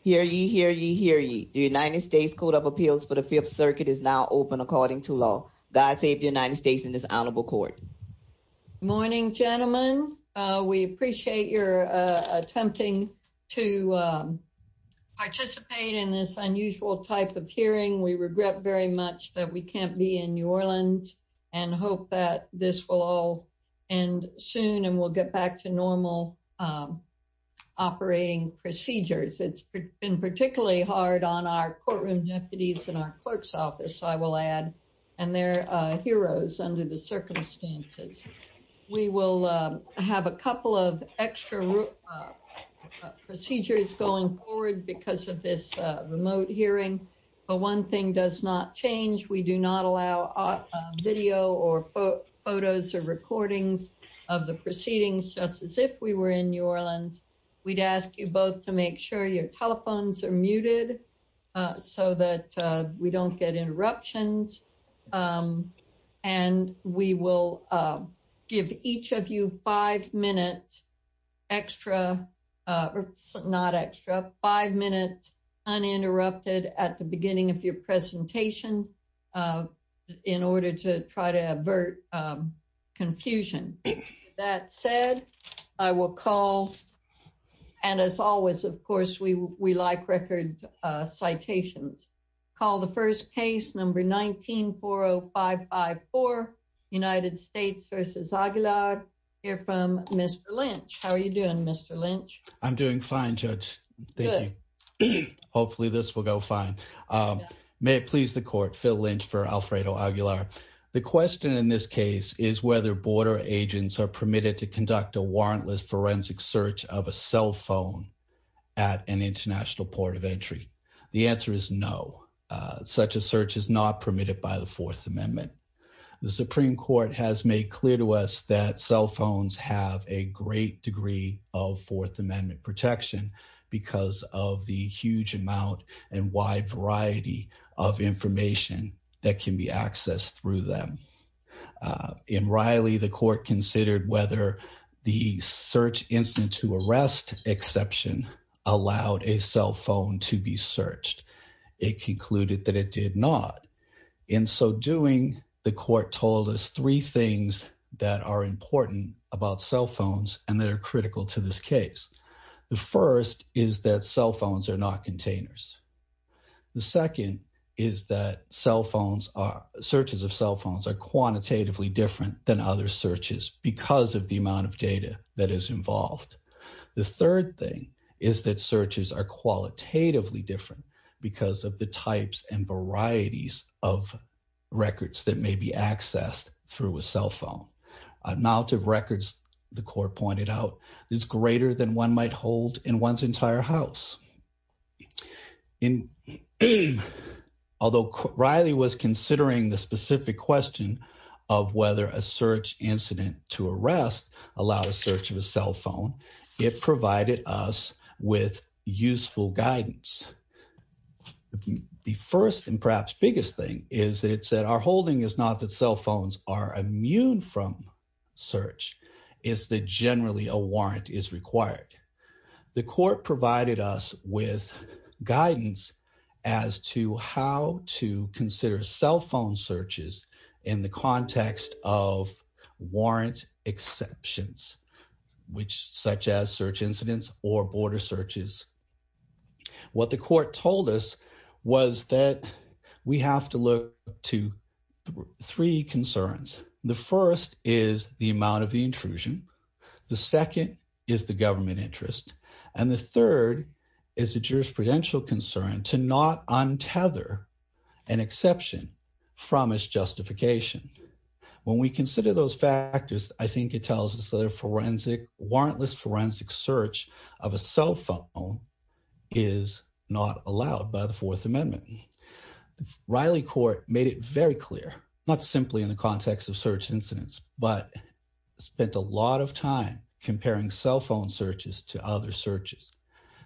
Hear ye, hear ye, hear ye. The United States Code of Appeals for the Fifth Circuit is now open according to law. God save the United States in this honorable court. Morning, gentlemen. We appreciate your attempting to participate in this unusual type of hearing. We regret very much that we can't be in New Orleans and hope that this will all end soon and we'll get back to normal operating procedures. It's been particularly hard on our courtroom deputies in our clerk's office, I will add, and their heroes under the circumstances. We will have a couple of extra procedures going forward because of this remote hearing, but one thing does not change. We do not allow video or photos or recordings of the proceedings just as if we were in New Orleans. We'd ask you both to make sure your telephones are muted so that we don't get interruptions and we will give each of you five minutes extra, not extra, five minutes uninterrupted at the beginning of your presentation in order to try to avert confusion. That said, I will call, and as always, of course, we like record citations. Call the first case, number 19-40554, United States versus Aguilar. Hear from Mr. Lynch. How are you doing, Mr. Lynch? I'm doing fine, Judge. Thank you. Hopefully, this will go fine. May it please the court, Phil Lynch for Alfredo Aguilar. The question in this case is whether border agents are permitted to conduct a warrantless forensic search of a cell at an international port of entry. The answer is no. Such a search is not permitted by the Fourth Amendment. The Supreme Court has made clear to us that cell phones have a great degree of Fourth Amendment protection because of the huge amount and wide variety of information that can be accessed through them. In Riley, the court considered whether the search incident to arrest exception allowed a cell phone to be searched. It concluded that it did not. In so doing, the court told us three things that are important about cell phones and that are critical to this case. The first is that cell phones are not containers. The second is that searches of cell phones are quantitatively different than other searches because of the The third thing is that searches are qualitatively different because of the types and varieties of records that may be accessed through a cell phone. The amount of records the court pointed out is greater than one might hold in one's entire house. Although Riley was considering the specific question of whether a search incident to arrest allowed a search of a cell phone, it provided us with useful guidance. The first and perhaps biggest thing is that it said our holding is not that cell phones are immune from search. It's that generally a warrant is required. The court provided us with guidance as to how to consider cell phone searches in the context of warrant exceptions, which such as search incidents or border searches. What the court told us was that we have to look to three concerns. The first is the amount of the intrusion. The second is the government interest. And the third is a jurisprudential concern to not untether an exception from its justification. When we consider those factors, I think it tells us that a forensic, warrantless forensic search of a cell phone is not allowed by the Fourth Amendment. Riley Court made it very clear, not simply in the context of search incidents, but spent a lot of time comparing cell phone searches to other searches.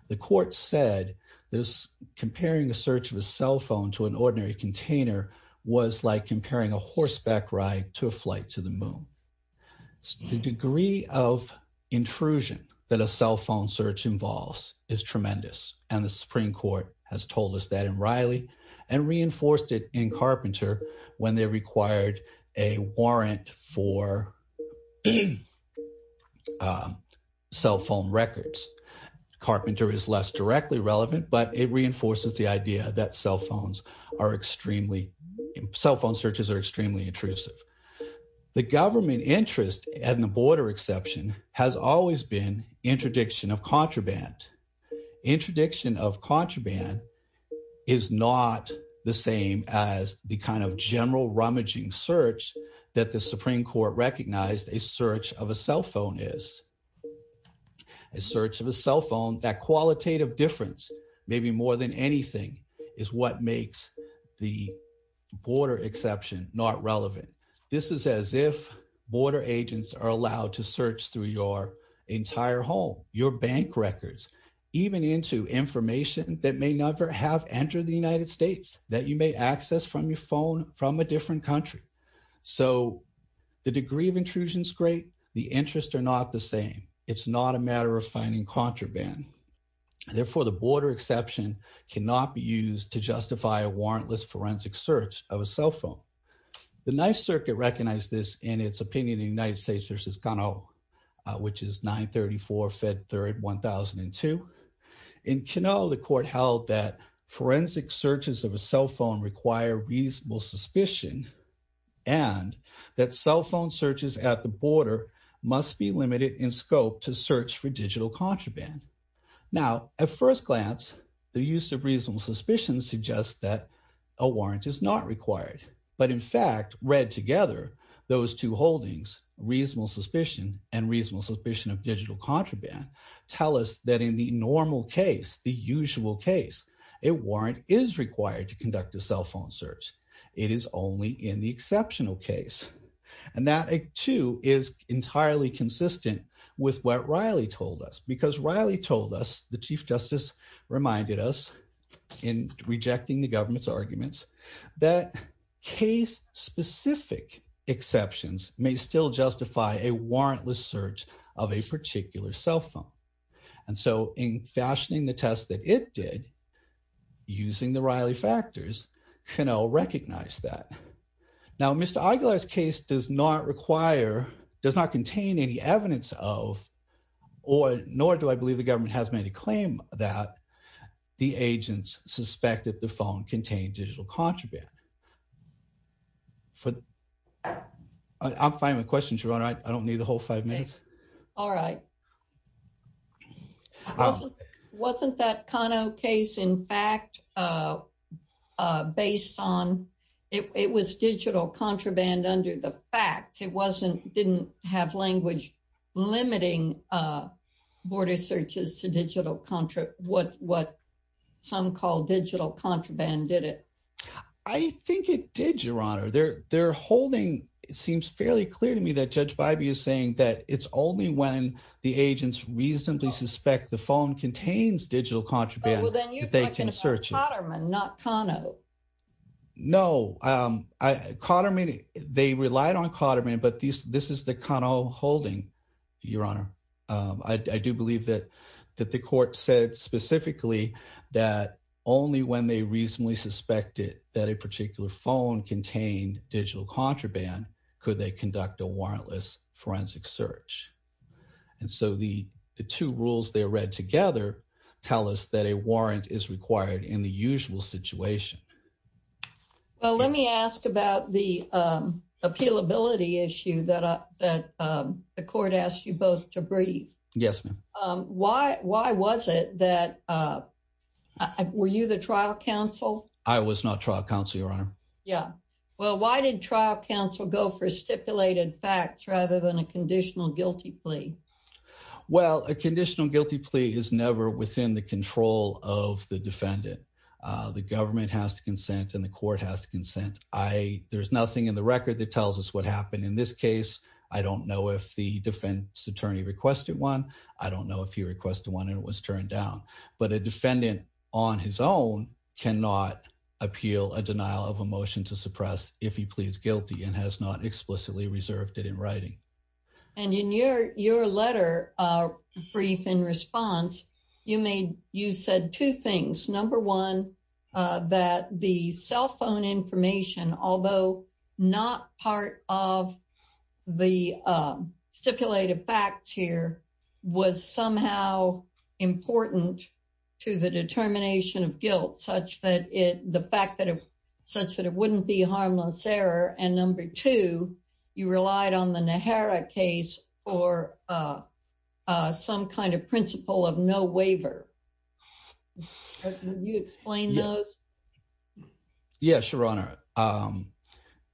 The court said this comparing a search of a cell phone to an ordinary container was like comparing a horseback ride to a flight to the moon. The degree of intrusion that a cell phone search involves is tremendous. And the Supreme Court has told us that in Riley and reinforced it in Carpenter when they required a warrant for cell phone records. Carpenter is less directly relevant, but it reinforces the idea that cell phone searches are extremely intrusive. The government interest and the border exception has always been interdiction of contraband. Interdiction of contraband is not the same as the kind of general rummaging search that the Supreme Court recognized a search of a cell phone is. A search of a cell phone, that qualitative difference, maybe more than anything, is what makes the border exception not relevant. This is as if border agents are allowed to search through your entire home, your bank records, even into information that may never have entered the United States that you may access from your phone from a different country. So the degree of intrusion is great. The interests are not the same. It's not a matter of finding contraband. Therefore, the border exception cannot be used to justify a warrantless forensic search of a cell phone. The U.S. Circuit recognized this in its opinion in United States versus Kano, which is 934 Fed Third 1002. In Kano, the court held that forensic searches of a cell phone require reasonable suspicion and that cell phone searches at the border must be limited in scope to search for digital contraband. Now, at first glance, the use of reasonable suspicion suggests that a warrant is not required. But in fact, read together, those two holdings, reasonable suspicion and reasonable suspicion of digital contraband, tell us that in the normal case, the usual case, a warrant is required to conduct a cell phone search. It is only in the exceptional case. And that, too, is entirely consistent with what Riley told us. Because Riley told us, the chief justice reminded us in rejecting the government's arguments that case specific exceptions may still justify a warrantless search of a particular cell phone. And so in fashioning the test that it did, using the Riley factors, Kano recognized that. Now, Mr. Aguilar's case does not require, does not contain any evidence of, or nor do I believe the government has made a claim that the agents suspected the phone contained digital contraband. I'm finding the question, Sharon, I don't need the whole five minutes. All right. Wasn't that Kano case, in fact, based on, it was digital contraband under the fact, it wasn't, didn't have language limiting border searches to digital contra, what some call digital contraband, did it? I think it did, Your Honor. Their holding seems fairly clear to me that Judge Bybee is saying that it's only when the agents reasonably suspect the phone contains digital contraband that they can search it. Oh, well, then you're talking about Kotterman, not Kano. No, Kotterman, they relied on Kotterman, but this is the Kano holding, Your Honor. I do believe that the court said specifically that only when they reasonably suspected that a particular phone contained digital contraband, could they conduct a warrantless forensic search. And so the two rules they read together tell us that a warrant is required in the usual situation. Well, let me ask about the appealability issue that the court asked you both to brief. Yes, ma'am. Why was it that, were you the trial counsel? I was not trial counsel, Your Honor. Yeah. Well, why did trial counsel go for stipulated facts rather than a conditional guilty plea? Well, a conditional guilty plea is never within the control of the defendant. The government has to consent and the court has to consent. I, there's nothing in the record that tells us what happened in this case. I don't know if the defense attorney requested one. I don't know if he requested one and it was turned down, but a defendant on his own cannot appeal a denial of a motion to suppress if he pleads guilty and has not explicitly reserved it in writing. And in your, your letter, uh, brief in response, you made, you said two things. Number one, uh, that the cell phone information, although not part of the, um, stipulated facts here was somehow important to the determination of guilt, such that it, the fact that, such that it wouldn't be harmless error. And number two, you relied on the Nehara case for, uh, uh, some kind of principle of no waiver. Can you explain those? Yeah, sure, Your Honor. Um,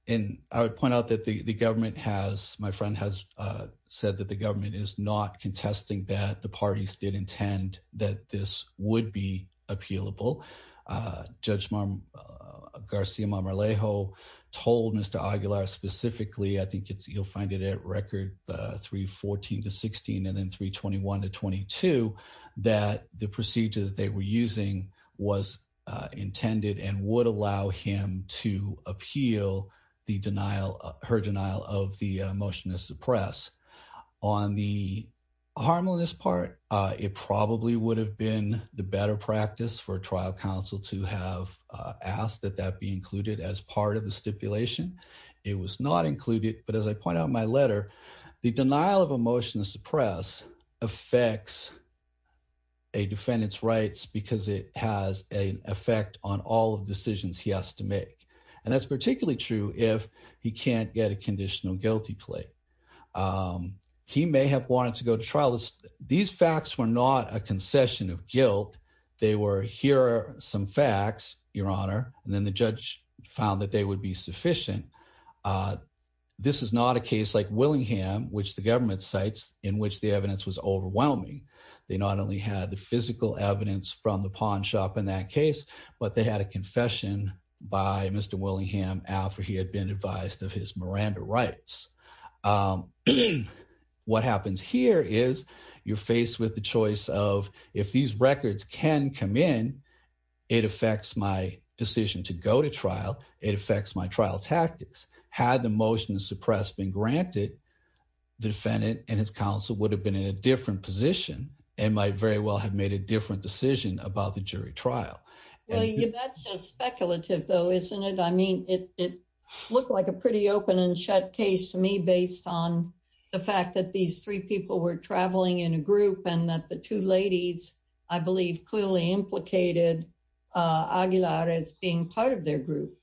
and I would point out that the, the government has, my friend has, uh, said that the government is not contesting that the parties did intend that this would be appealable. Uh, Judge Garcia-Marmalejo told Mr. Aguilar specifically, I think it's, you'll find it at record, uh, 314 to 16 and then 321 to 22, that the procedure that they were using was, uh, intended and would allow him to appeal the denial, her denial of the motion to suppress. On the harmlessness part, uh, it probably would have been the better practice for a trial counsel to have, uh, asked that that be included as part of the stipulation. It was not included, but as I point out in my letter, the denial of a motion to suppress affects a defendant's rights because it has an effect on all of the decisions he has to make. And that's particularly true if he can't get a conditional guilty plea. Um, he may have wanted to go to trial. These facts were not a concession of guilt. They were here are some facts, Your Honor, and then the judge found that they would be sufficient. Uh, this is not a case like Willingham, which the government cites in which the evidence was overwhelming. They not only had the physical evidence from the pawn shop in that case, but they had a confession by Mr. Willingham after he had been advised of his Miranda rights. Um, what happens here is you're faced with the choice of if these records can come in, it affects my decision to go to trial. It affects my trial tactics. Had the motion to suppress been granted, the defendant and his counsel would have been in a different position and might very well have made a different decision about the jury trial. Well, that's just speculative, though, isn't it? I mean, it looked like a pretty open and shut case to me based on the fact that these three people were traveling in a group and that the two ladies, I believe, clearly implicated Aguilar as being part of their group.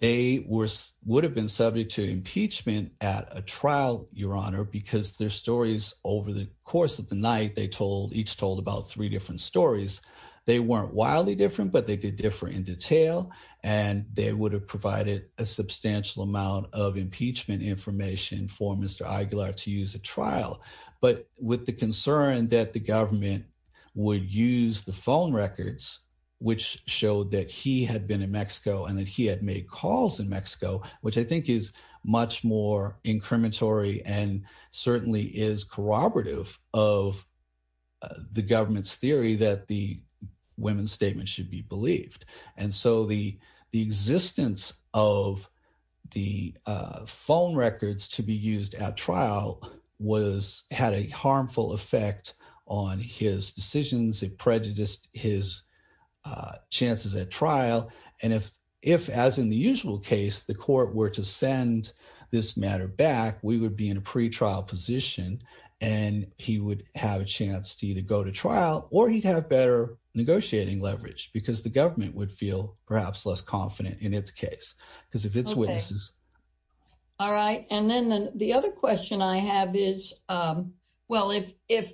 They were would have been subject to impeachment at a trial, Your Honor, because their stories over the course of the night they told each told about three different stories. They weren't wildly different, but they did differ in detail and they would have provided a substantial amount of impeachment information for Mr. Aguilar to use a trial. But with the concern that the government would use the phone records, which showed that he had been in Mexico and that he had made calls in Mexico, which I think is much more incriminatory and certainly is corroborative of the government's theory that the women's statement should be believed. And so the the existence of the phone records to be used at trial was had a harmful effect on his decisions. It prejudiced his chances at trial. And if if, as in the usual case, the court were to send this matter back, we would be in a pretrial position and he would have a chance to either go to trial or he'd have better negotiating leverage because the government would feel perhaps less confident in its case because of its witnesses. All right. And then the other question I have is, well, if if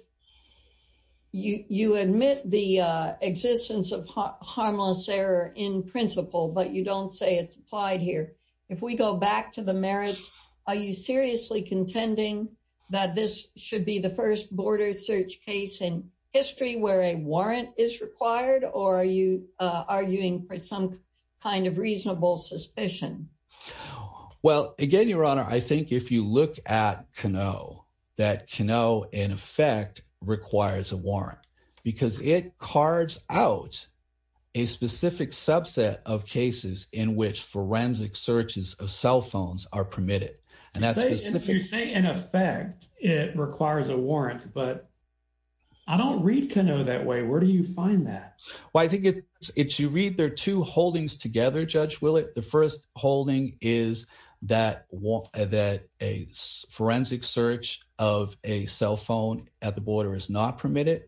you admit the existence of harmless error in principle, but you don't say it's applied here, if we go back to the merits, are you seriously contending that this should be the first border search case in history where a warrant is required? Or are you arguing for some kind of reasonable suspicion? Well, again, Your Honor, I think if you look at Kano, that Kano, in effect, requires a warrant because it cards out a specific subset of cases in which forensic searches of cell phones are permitted. And that's if you say in effect, it requires a warrant. But I don't read Kano that way. Where do you find that? Well, I think it's you read their two holdings together, Judge Willett. The first holding is that that a forensic search of a cell phone at the border is not permitted.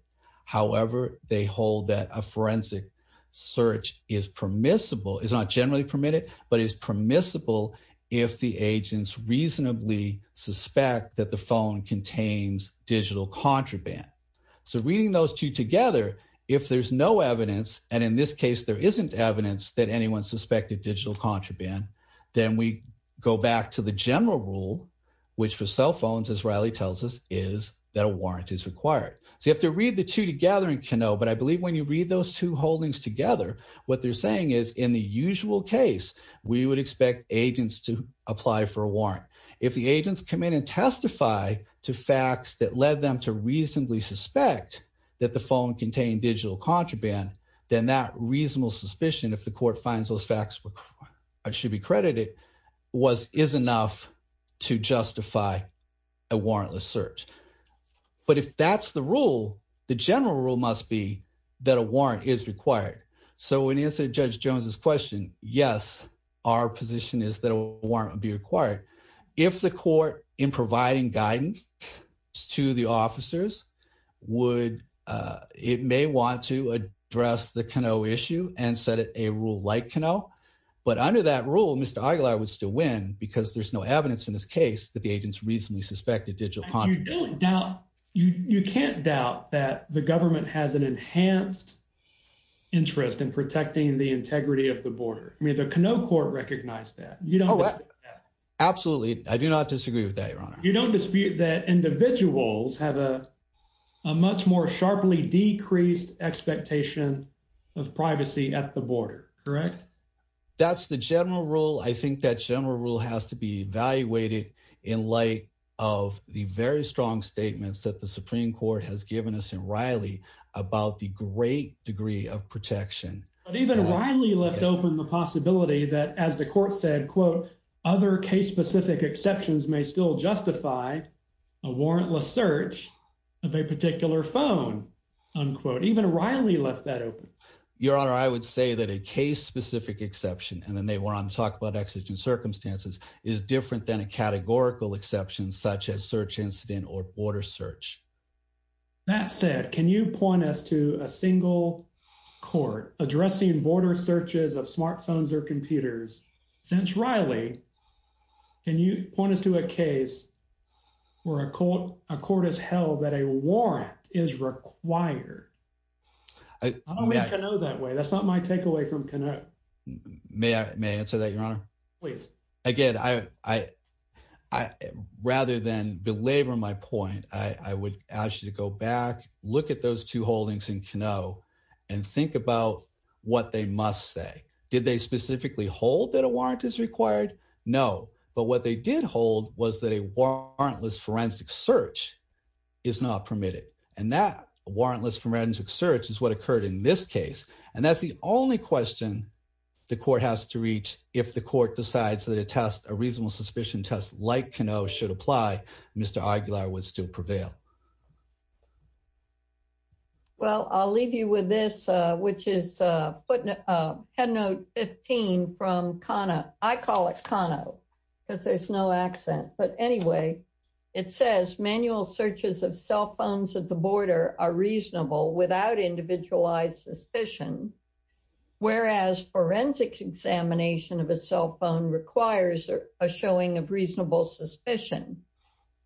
However, they hold that a forensic search is permissible, is not generally permitted, but is permissible if the agents reasonably suspect that the phone contains digital contraband. So reading those two together, if there's no evidence, and in this case, there isn't evidence that anyone suspected digital contraband, then we go back to the general rule, which for cell phones, as Riley tells us, is that a warrant is required. So you have to read the two together in Kano, but I believe when you read those two holdings together, what they're saying is in the usual case, we would expect agents to apply for a warrant. If the agents come in and testify to facts that led them to reasonably suspect that the phone contained digital contraband, then that reasonable suspicion, if the court finds those facts should be credited, is enough to justify a warrantless search. But if that's the rule, the general rule must be that a warrant is required. So in answer to Judge Jones's question, yes, our position is that a warrant would be required. If the court in providing guidance to the officers would, it may want to address the Kano issue and set a rule like Kano, but under that rule, Mr. Aguilar would still win because there's no evidence in this case that the agents reasonably suspected digital contraband. You can't doubt that the government has an enhanced interest in protecting the integrity of the border. I mean, the Kano court recognized that. Absolutely. I do not disagree with that, Your Honor. You don't dispute that individuals have a much more sharply decreased expectation of privacy at the border, correct? That's the general rule. I think that general rule has to be evaluated in light of the very strong statements that the Supreme Court has given us in Riley about the great degree of protection. But even Riley left open the possibility that, as the court said, other case-specific exceptions may still justify a warrantless search of a particular phone. Even Riley left that open. Your Honor, I would say that a case-specific exception, and then they were on to talk about exigent circumstances, is different than a categorical exception such as searches of smartphones or computers. Since Riley, can you point us to a case where a court has held that a warrant is required? I don't mean Kano that way. That's not my takeaway from Kano. May I answer that, Your Honor? Please. Again, rather than belabor my point, I would ask you to go back, look at those two holdings in Kano, and think about what they must say. Did they specifically hold that a warrant is required? No. But what they did hold was that a warrantless forensic search is not permitted. And that warrantless forensic search is what occurred in this case. And that's the only question the court has to reach if the court decides that a test, a reasonable suspicion test like Kano should apply, Mr. Aguilar would still prevail. Well, I'll leave you with this, which is footnote 15 from Kano. I call it Kano because there's no accent. But anyway, it says manual searches of cell phones at the border are reasonable without individualized suspicion, whereas forensic examination of a cell phone requires a showing of reasonable suspicion.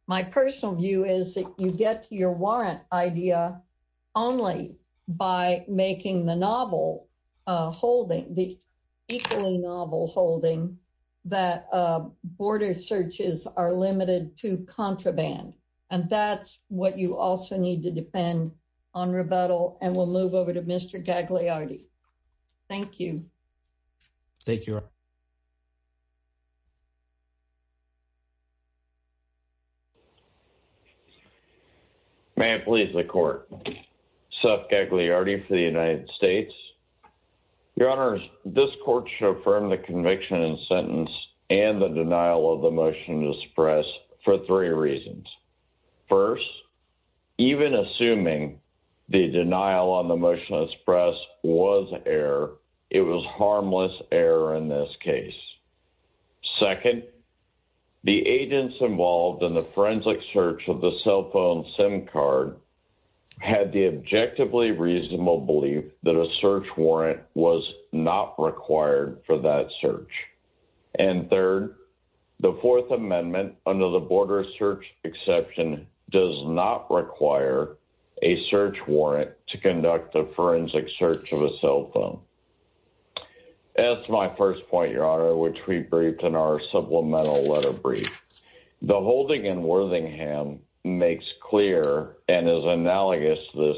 My personal view is that you get to your warrant idea only by making the novel holding, the equally novel holding, that border searches are limited to contraband. And that's what you also need to depend on rebuttal. And we'll move over to Mr. Gagliardi. Thank you. Thank you. May it please the court. Seth Gagliardi for the United States. Your honors, this court should affirm the conviction and sentence and the denial of the motion to express for three reasons. First, even assuming the denial on the motion to express was error, it was harmless error in this case. Second, the agents involved in the forensic search of the cell phone SIM card had the objectively reasonable belief that a search warrant was not required for that search. And third, the Fourth Amendment under the border search exception does not require a search warrant to conduct the forensic search of a cell phone. As my first point, your honor, which we briefed in our supplemental letter brief, the holding in Worthingham makes clear and is analogous to this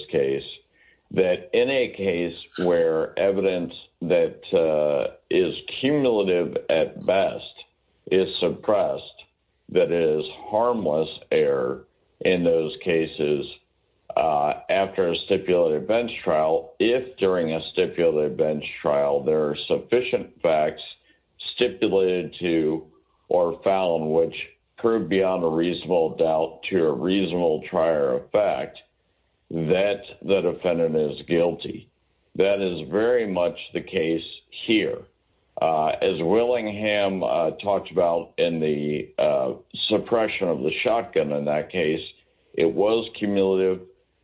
is suppressed. That is harmless error. In those cases, after a stipulated bench trial, if during a stipulated bench trial, there are sufficient facts stipulated to or found which proved beyond a reasonable doubt to a reasonable trier of fact that the defendant is guilty. That is very much the case here. As Willingham talked about in the suppression of the shotgun, in that case, it was cumulative.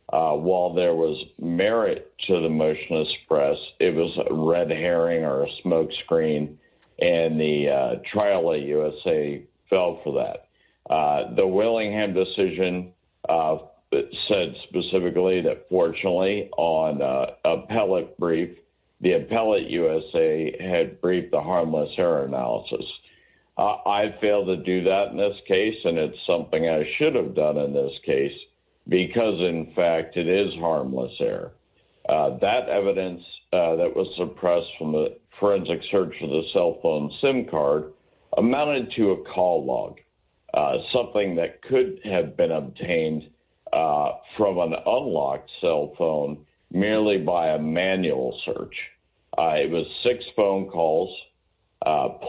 While there was merit to the motion to express, it was a red herring or a smokescreen, and the trial at USA fell for that. The Willingham decision that said specifically that fortunately on appellate brief, the appellate USA had briefed the harmless error analysis. I failed to do that in this case, and it's something I should have done in this case, because in fact, it is harmless error. That evidence that was suppressed from the forensic search of the cell phone SIM card amounted to a call log, something that could have been obtained from an unlocked cell phone merely by a manual search. It was six phone calls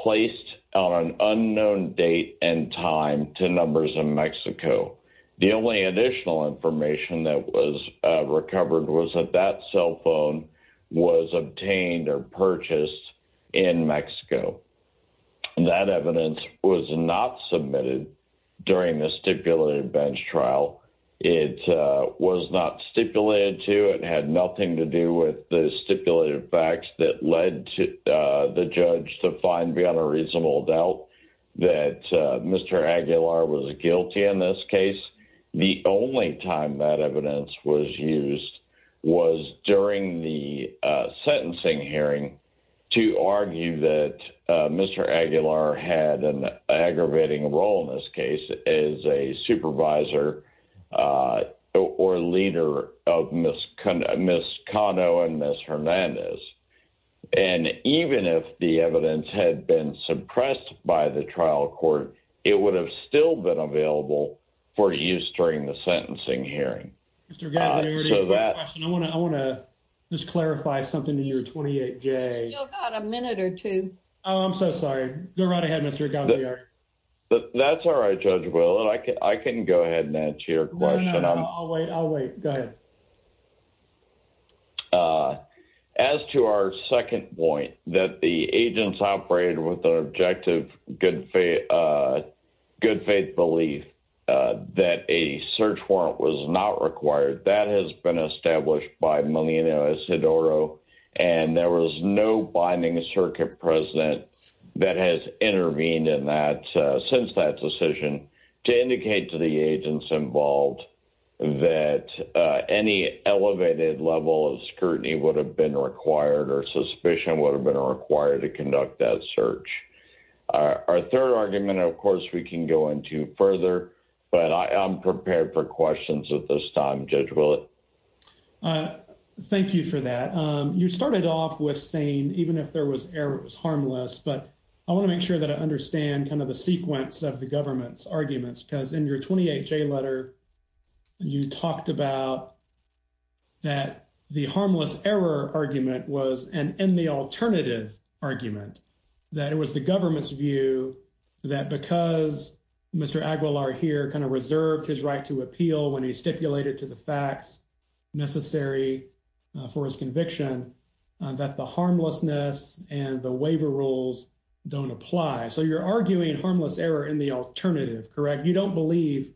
placed on an unknown date and time to numbers in Mexico. The only additional information that was recovered was that that cell phone was obtained or purchased in Mexico. That evidence was not submitted during the stipulated bench trial. It was not stipulated to. It had nothing to do with the stipulated facts that led the judge to find beyond a reasonable doubt that Mr. Aguilar was guilty in this case. The only time that evidence was used was during the sentencing hearing to argue that Mr. Aguilar had an aggravating role in this case as a supervisor or leader of Ms. Cano and Ms. Hernandez. Even if the evidence had been suppressed by the trial court, it would have still been available for use during the sentencing hearing. Mr. Aguilar, I want to just clarify something to your 28-J. We've still got a minute or two. Oh, I'm so sorry. Go right ahead, Mr. Aguilar. That's all right, Judge Willard. I can go ahead and answer your question. No, no, no. I'll wait. I'll wait. Go ahead. As to our second point, that the agents operated with an objective good faith belief that a search warrant was not required, that has been established by Melina Isidoro and there was no binding circuit present that has intervened since that decision to indicate to the agents involved that any elevated level of scrutiny would have been required or suspicion would have been required to conduct that search. Our third argument, of course, we can go into further, but I'm prepared for questions at this time, Judge Willard. Thank you for that. You started off with saying even if there was error, it was harmless, but I want to make sure that I understand kind of the sequence of the government's arguments because in your 28-J letter, you talked about that the harmless error argument was an in the alternative argument, that it was the government's that because Mr. Aguilar here kind of reserved his right to appeal when he stipulated to the facts necessary for his conviction, that the harmlessness and the waiver rules don't apply. So you're arguing harmless error in the alternative, correct? You don't believe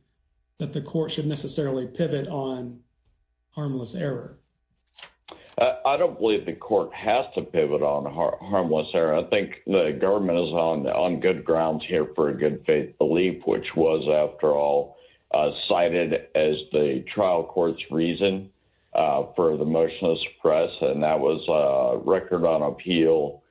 that the court should necessarily pivot on harmless error. I don't believe the court has to pivot on harmless error. I think the government is on good grounds here for a good faith belief, which was, after all, cited as the trial court's reason for the motionless press, and that was a record on appeal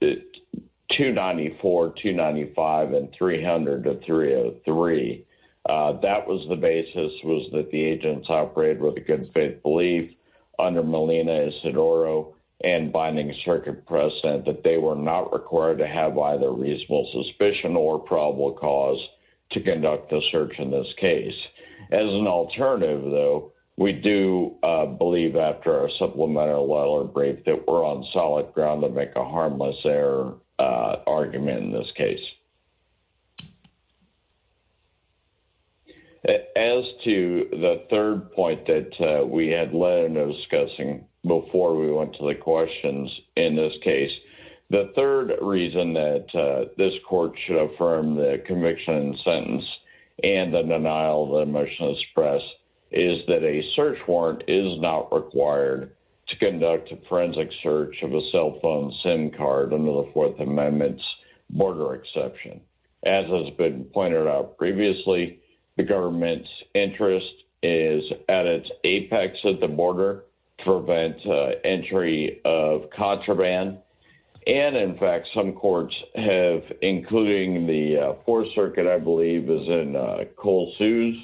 294, 295, and 300 to 303. That was the basis, was that the agents operated with a good faith belief under Melina Isidoro and binding circuit precedent, that they were not required to have either reasonable suspicion or probable cause to conduct the search in this case. As an alternative, though, we do believe after our supplemental letter break that we're on solid ground to make a harmless error argument in this case. As to the third point that we had led into discussing before we went to the questions in this case, the third reason that this court should affirm the conviction and sentence and the denial of the motionless press is that a search warrant is not required to conduct a search. As has been pointed out previously, the government's interest is at its apex at the border to prevent entry of contraband. In fact, some courts have, including the Fourth Circuit, I believe is in Cole Sue's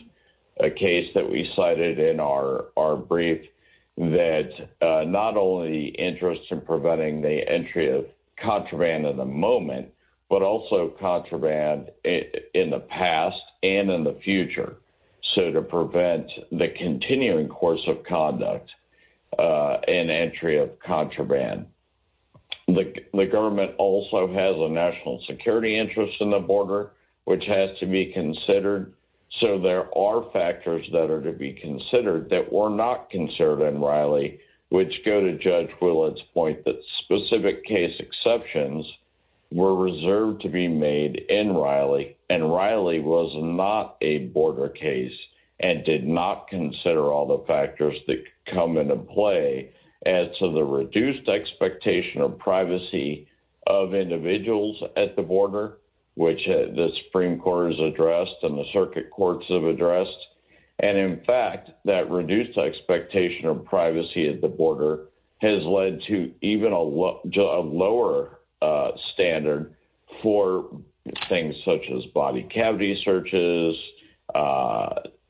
case that we cited in our brief, that not only interest in preventing the entry of contraband in the moment, but also contraband in the past and in the future, so to prevent the continuing course of conduct and entry of contraband. The government also has a national security interest in the border, which has to be considered, so there are factors that are to be considered that were not considered in Riley, which go to Judge Willett's point that specific case exceptions were reserved to be made in Riley, and Riley was not a border case and did not consider all the factors that come into play as to the reduced expectation of privacy of individuals at the border, which the Supreme Court has addressed and the circuit courts have a lower standard for things such as body cavity searches,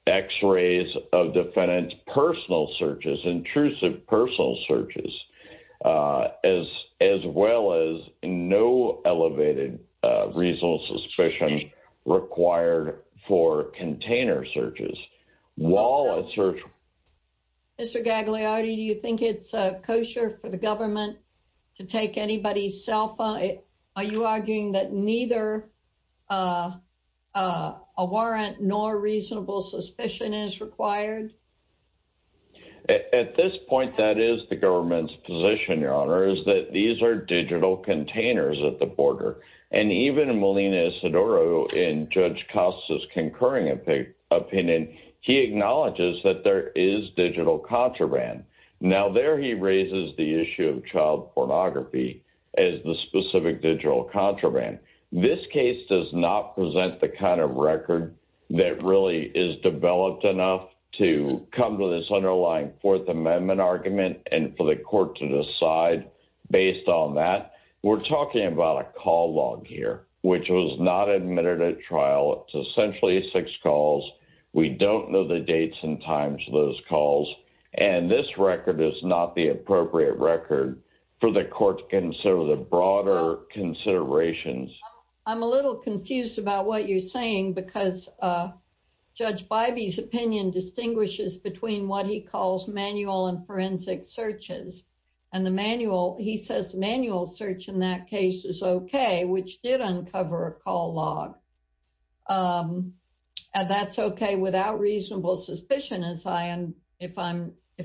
x-rays of defendants, personal searches, intrusive personal searches, as well as no elevated reasonable suspicion required for container searches. Mr. Gagliardi, do you think it's kosher for the government to take anybody's cell phone? Are you arguing that neither a warrant nor reasonable suspicion is required? At this point, that is the government's position, Your Honor, is that these are digital containers at the border, and even Melina Isidoro, in Judge Costa's concurring opinion, he acknowledges that there is digital contraband. Now, there he raises the issue of child pornography as the specific digital contraband. This case does not present the kind of record that really is developed enough to come to this underlying Fourth Amendment argument and for the court to decide based on that. We're talking about a call log here, which was not admitted at trial. It's essentially six calls. We don't know the dates and times of those calls, and this record is not the appropriate record for the court to consider the broader considerations. I'm a little confused about what you're saying because Judge Bybee's opinion distinguishes between what he calls manual and search. In that case, it's okay, which did uncover a call log. That's okay without reasonable suspicion, if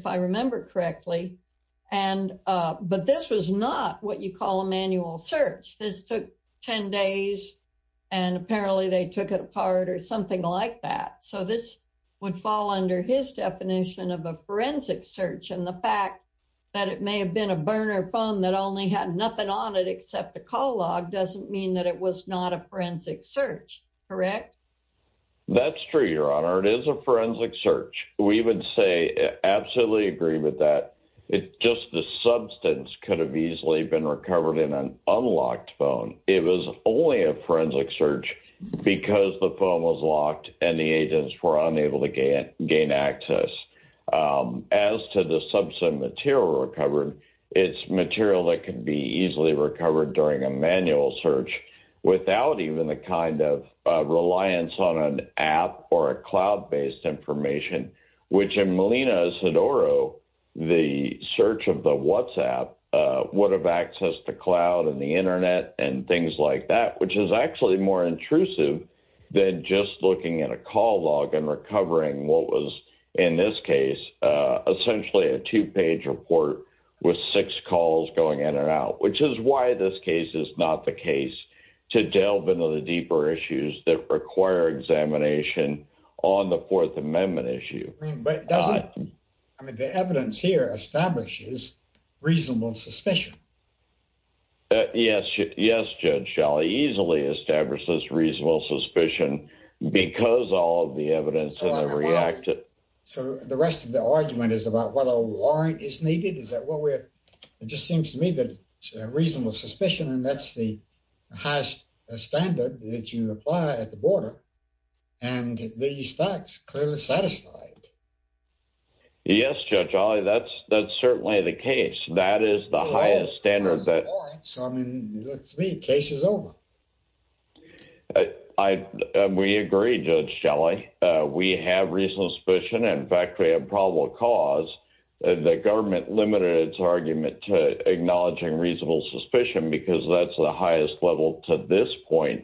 I remember correctly, but this was not what you call a manual search. This took 10 days, and apparently, they took it apart or something like that. This would fall under his definition of a forensic search, and the fact that it may have been a burner phone that only had nothing on it except a call log doesn't mean that it was not a forensic search, correct? That's true, Your Honor. It is a forensic search. We would say absolutely agree with that. It's just the substance could have easily been recovered in an unlocked phone. It was only a forensic search because the phone was locked and the agents were unable to gain access. As to the substance material recovered, it's material that could be easily recovered during a manual search without even the kind of reliance on an app or a cloud-based information, which in Molina-Sodoro, the search of the WhatsApp would have access to cloud and the internet and things like that, which is actually more intrusive than just looking at a call log and recovering what was, in this case, essentially a two-page report with six calls going in and out, which is why this case is not the case to delve into the deeper issues that require examination on the Fourth Amendment issue. I mean, the evidence here reasonable suspicion. Yes, Judge, I'll easily establish this reasonable suspicion because all of the evidence has reacted. So the rest of the argument is about whether a warrant is needed? Is that what we're, it just seems to me that it's a reasonable suspicion and that's the highest standard that you apply at the border and these facts clearly satisfied. Yes, Judge Olley, that's certainly the case. That is the highest standard that... So I mean, to me, the case is over. We agree, Judge Shelley. We have reasonable suspicion and, in fact, we have probable cause. The government limited its argument to acknowledging reasonable suspicion because that's the highest level to this point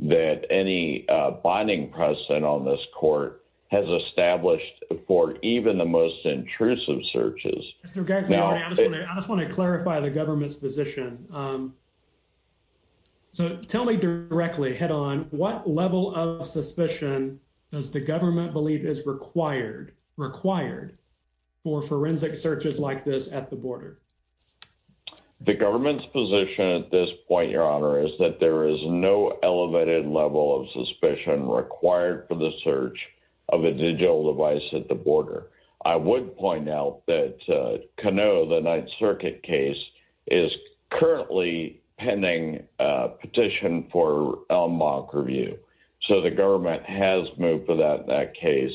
that any binding precedent on this court has established for even the most intrusive searches. I just want to clarify the government's position. So tell me directly, head on, what level of suspicion does the government believe is required for forensic searches like this at the border? The government's position at this point, Your Honor, is that there is no elevated level of a digital device at the border. I would point out that Canoe, the Ninth Circuit case, is currently pending a petition for a mock review. So the government has moved for that case.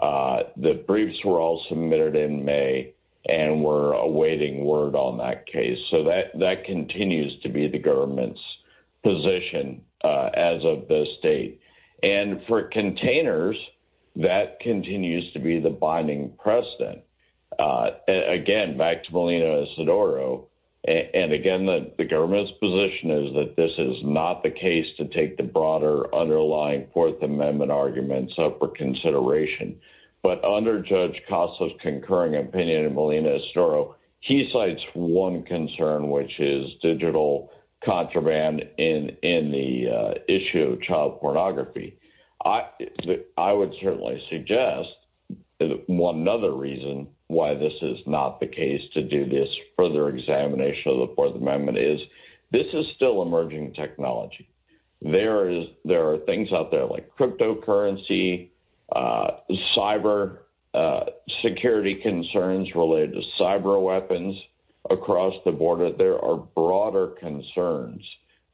The briefs were all submitted in May and we're awaiting word on that case. So that continues to be the government's position as of this date. And for containers, that continues to be the binding precedent. Again, back to Molina-Sidoro, and again, the government's position is that this is not the case to take the broader underlying Fourth Amendment arguments up for consideration. But under Judge Kasso's concurring opinion in Molina-Sidoro, he cites one concern, which is digital contraband in the issue of child pornography. I would certainly suggest one other reason why this is not the case to do this further examination of the Fourth Amendment is this is still emerging technology. There are things out there like cryptocurrency, cyber security concerns related to cyber weapons across the border. There are broader concerns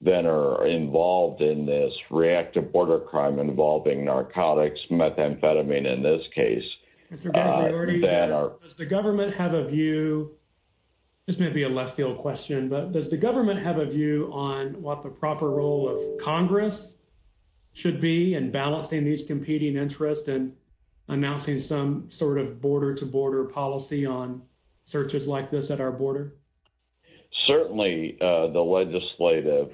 that are involved in this reactive border crime involving narcotics, methamphetamine in this case. Does the government have a view, this may be a left field question, but does the government have a view on what the proper role of Congress should be in balancing these competing interests and announcing some sort of border-to-border policy on searches like this at our border? Certainly, a legislative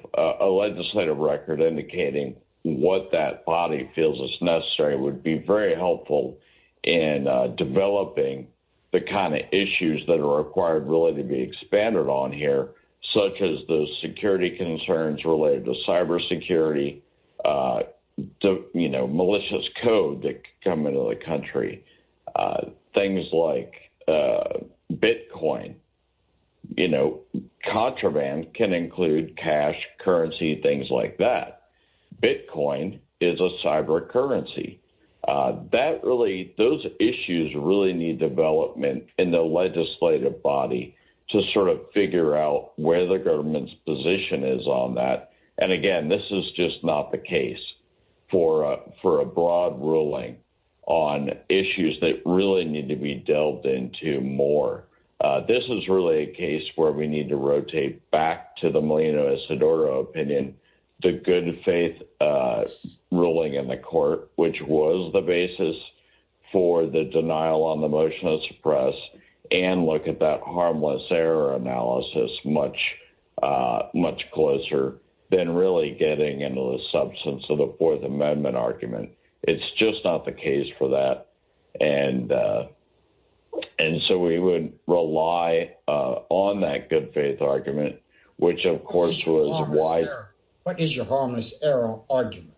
record indicating what that body feels is necessary would be very helpful in developing the kind of issues that are required really to be expanded on here, such as the security concerns related to cyber security, malicious code that come into the country, things like Bitcoin. Contraband can include cash, currency, things like that. Bitcoin is a cyber currency. Those issues really need development in the legislative body to sort of figure out where the government's position is on that. Again, this is just not the case for a broad ruling on issues that really need to be delved into more. This is really a case where we need to rotate back to the Molino-Isidoro opinion, the good faith ruling in the court, which was the basis for the denial on the motion of suppress, and look at that harmless error analysis much closer than really getting into the substance of the Fourth Amendment argument. It's just not the case for that, and so we would rely on that good faith argument, which of course was why... What is your harmless error argument?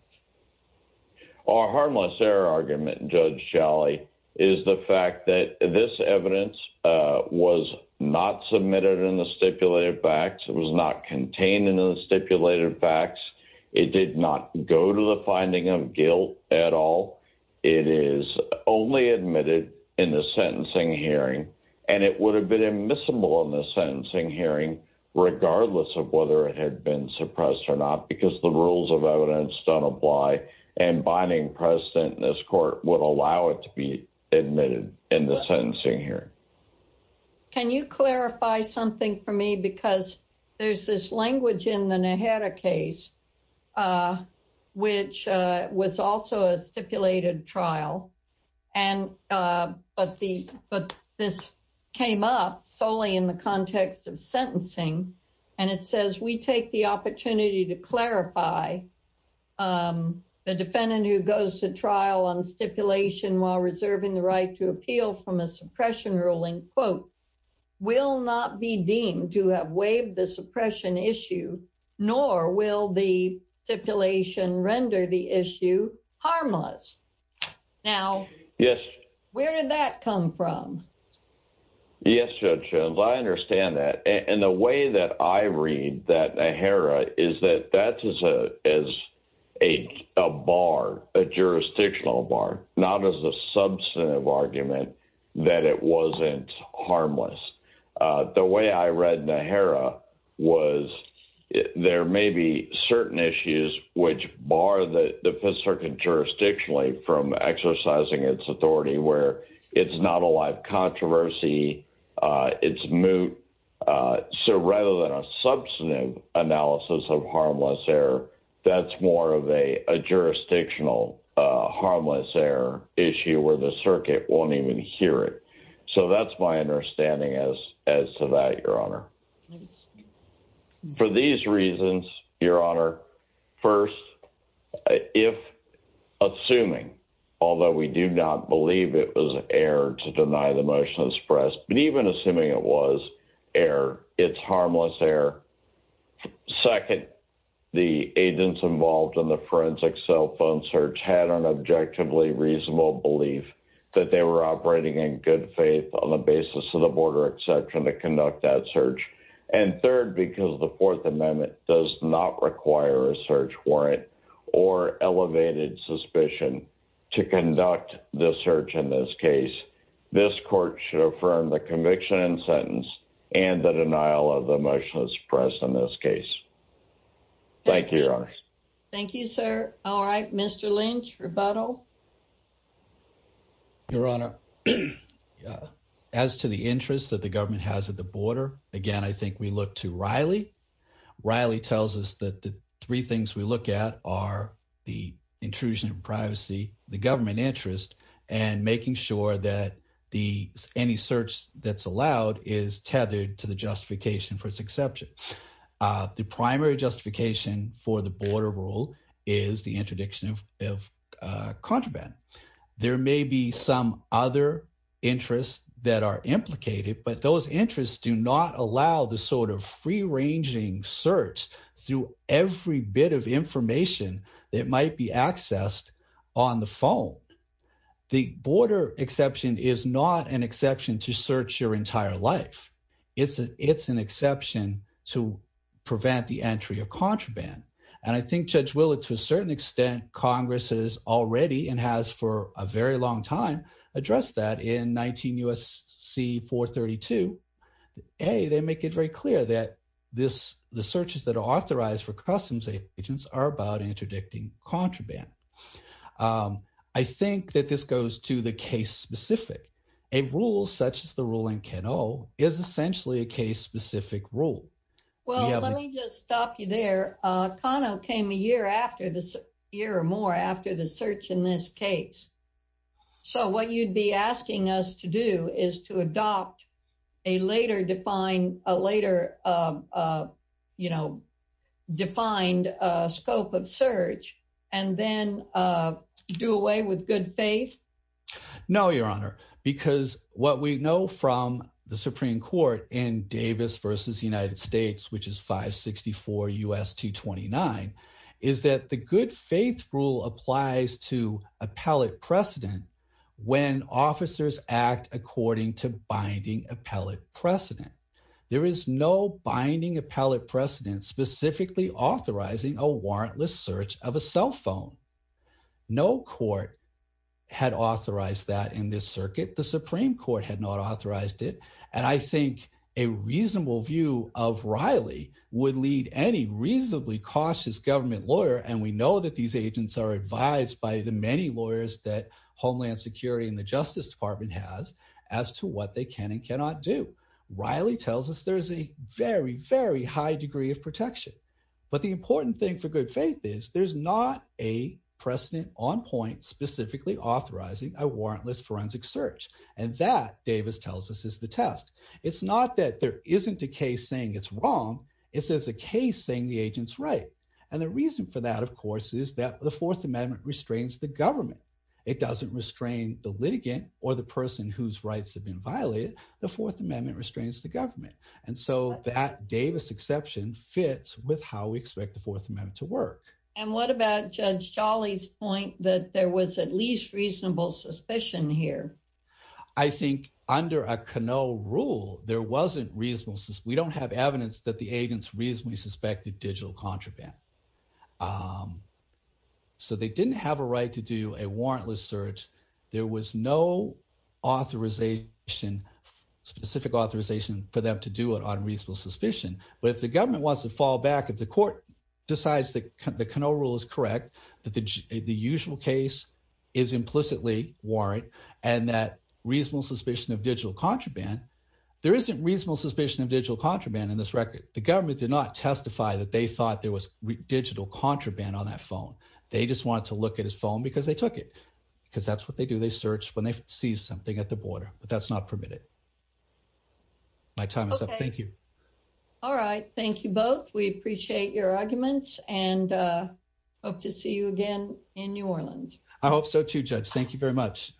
Our harmless error argument, Judge Shalley, is the fact that this evidence was not submitted in the stipulated facts. It was not contained in the stipulated facts. It did not go to the finding of guilt at all. It is only admitted in the sentencing hearing, and it would have been admissible in the sentencing hearing, regardless of whether it had been suppressed or not, because the rules of evidence don't apply, and binding precedent in this court would allow it to be admitted in the sentencing hearing. Can you clarify something for me? There's this language in the Nehera case, which was also a stipulated trial, but this came up solely in the context of sentencing, and it says, we take the opportunity to clarify the defendant who goes to trial on stipulation while reserving the right to appeal from a suppression ruling, quote, will not be deemed to have waived the suppression issue, nor will the stipulation render the issue harmless. Now, where did that come from? Yes, Judge Jones, I understand that, and the way that I read that Nehera is that that is a bar, a jurisdictional bar, not as a substantive argument that it wasn't harmless. The way I read Nehera was, there may be certain issues which bar the Fifth Circuit jurisdictionally from exercising its authority, where it's not a live controversy, it's moot, so rather than a jurisdictional harmless error issue where the circuit won't even hear it. So that's my understanding as to that, Your Honor. For these reasons, Your Honor, first, if assuming, although we do not believe it was an error to deny the motion expressed, but even assuming it was error, it's harmless error. Second, the agents involved in the forensic cell phone search had an objectively reasonable belief that they were operating in good faith on the basis of the border exception to conduct that search. And third, because the Fourth Amendment does not require a search warrant or elevated suspicion to conduct the search in this case, this court should affirm the conviction and sentence and the denial of the motion expressed in this case. Thank you, Your Honor. Thank you, sir. All right, Mr. Lynch, rebuttal. Your Honor, as to the interest that the government has at the border, again, I think we look to Riley. Riley tells us that the three things we look at are the intrusion of privacy, the government interest, and making sure that any search that's allowed is tethered to the justification for its exception. The primary justification for the border rule is the interdiction of contraband. There may be some other interests that are implicated, but those interests do not allow the sort of free-ranging search through every bit of information that might be accessed on the phone. The border exception is not an exception to search your entire life. It's an exception to prevent the entry of contraband. And I think Judge Willett, to a certain extent, Congress has already, and has for a very long time, addressed that in 19 U.S.C. 432. A, they make it very clear that the searches that are authorized for customs agents are about interdicting contraband. I think that this goes to the case-specific. A rule such as the rule in Kano is essentially a case-specific rule. Well, let me just stop you there. Kano came a year or more after the search in this case. So what you'd be asking us to do is to adopt a later defined, a later, you know, defined scope of search, and then do away with good faith? No, Your Honor, because what we know from the Supreme Court in Davis v. United States, which is 564 U.S. 229, is that the good faith rule applies to appellate precedent when officers act according to binding appellate precedent. There is no binding appellate precedent specifically authorizing a warrantless search of a cell phone. No court had authorized that in this circuit. The Supreme Court had not authorized it. And I think a reasonable view of Riley would lead any reasonably cautious government lawyer, and we know that these agents are advised by the many lawyers that Homeland Security and the tells us there's a very, very high degree of protection. But the important thing for good faith is there's not a precedent on point specifically authorizing a warrantless forensic search. And that, Davis tells us, is the test. It's not that there isn't a case saying it's wrong. It's as a case saying the agent's right. And the reason for that, of course, is that the Fourth Amendment restrains the government. It doesn't restrain the litigant or the person whose rights have been violated. The Fourth Amendment restrains the government. And so that Davis exception fits with how we expect the Fourth Amendment to work. And what about Judge Jolly's point that there was at least reasonable suspicion here? I think under a Canoe rule, there wasn't reasonable since we don't have evidence that the agents reasonably suspected digital contraband. So they didn't have a right to do a warrantless search. There was no authorization, specific authorization for them to do it on reasonable suspicion. But if the government wants to fall back, if the court decides that the Canoe rule is correct, that the usual case is implicitly warrant and that reasonable suspicion of digital contraband, there isn't reasonable suspicion of digital contraband in this record. The government did not testify that they thought there was digital contraband on that phone. They just wanted to look at his phone because they took it because that's what they do. They search when they see something at the border, but that's not permitted. My time is up. Thank you. All right. Thank you both. We appreciate your arguments and hope to see you again in New Orleans. I hope so too, Judge. Thank you very much.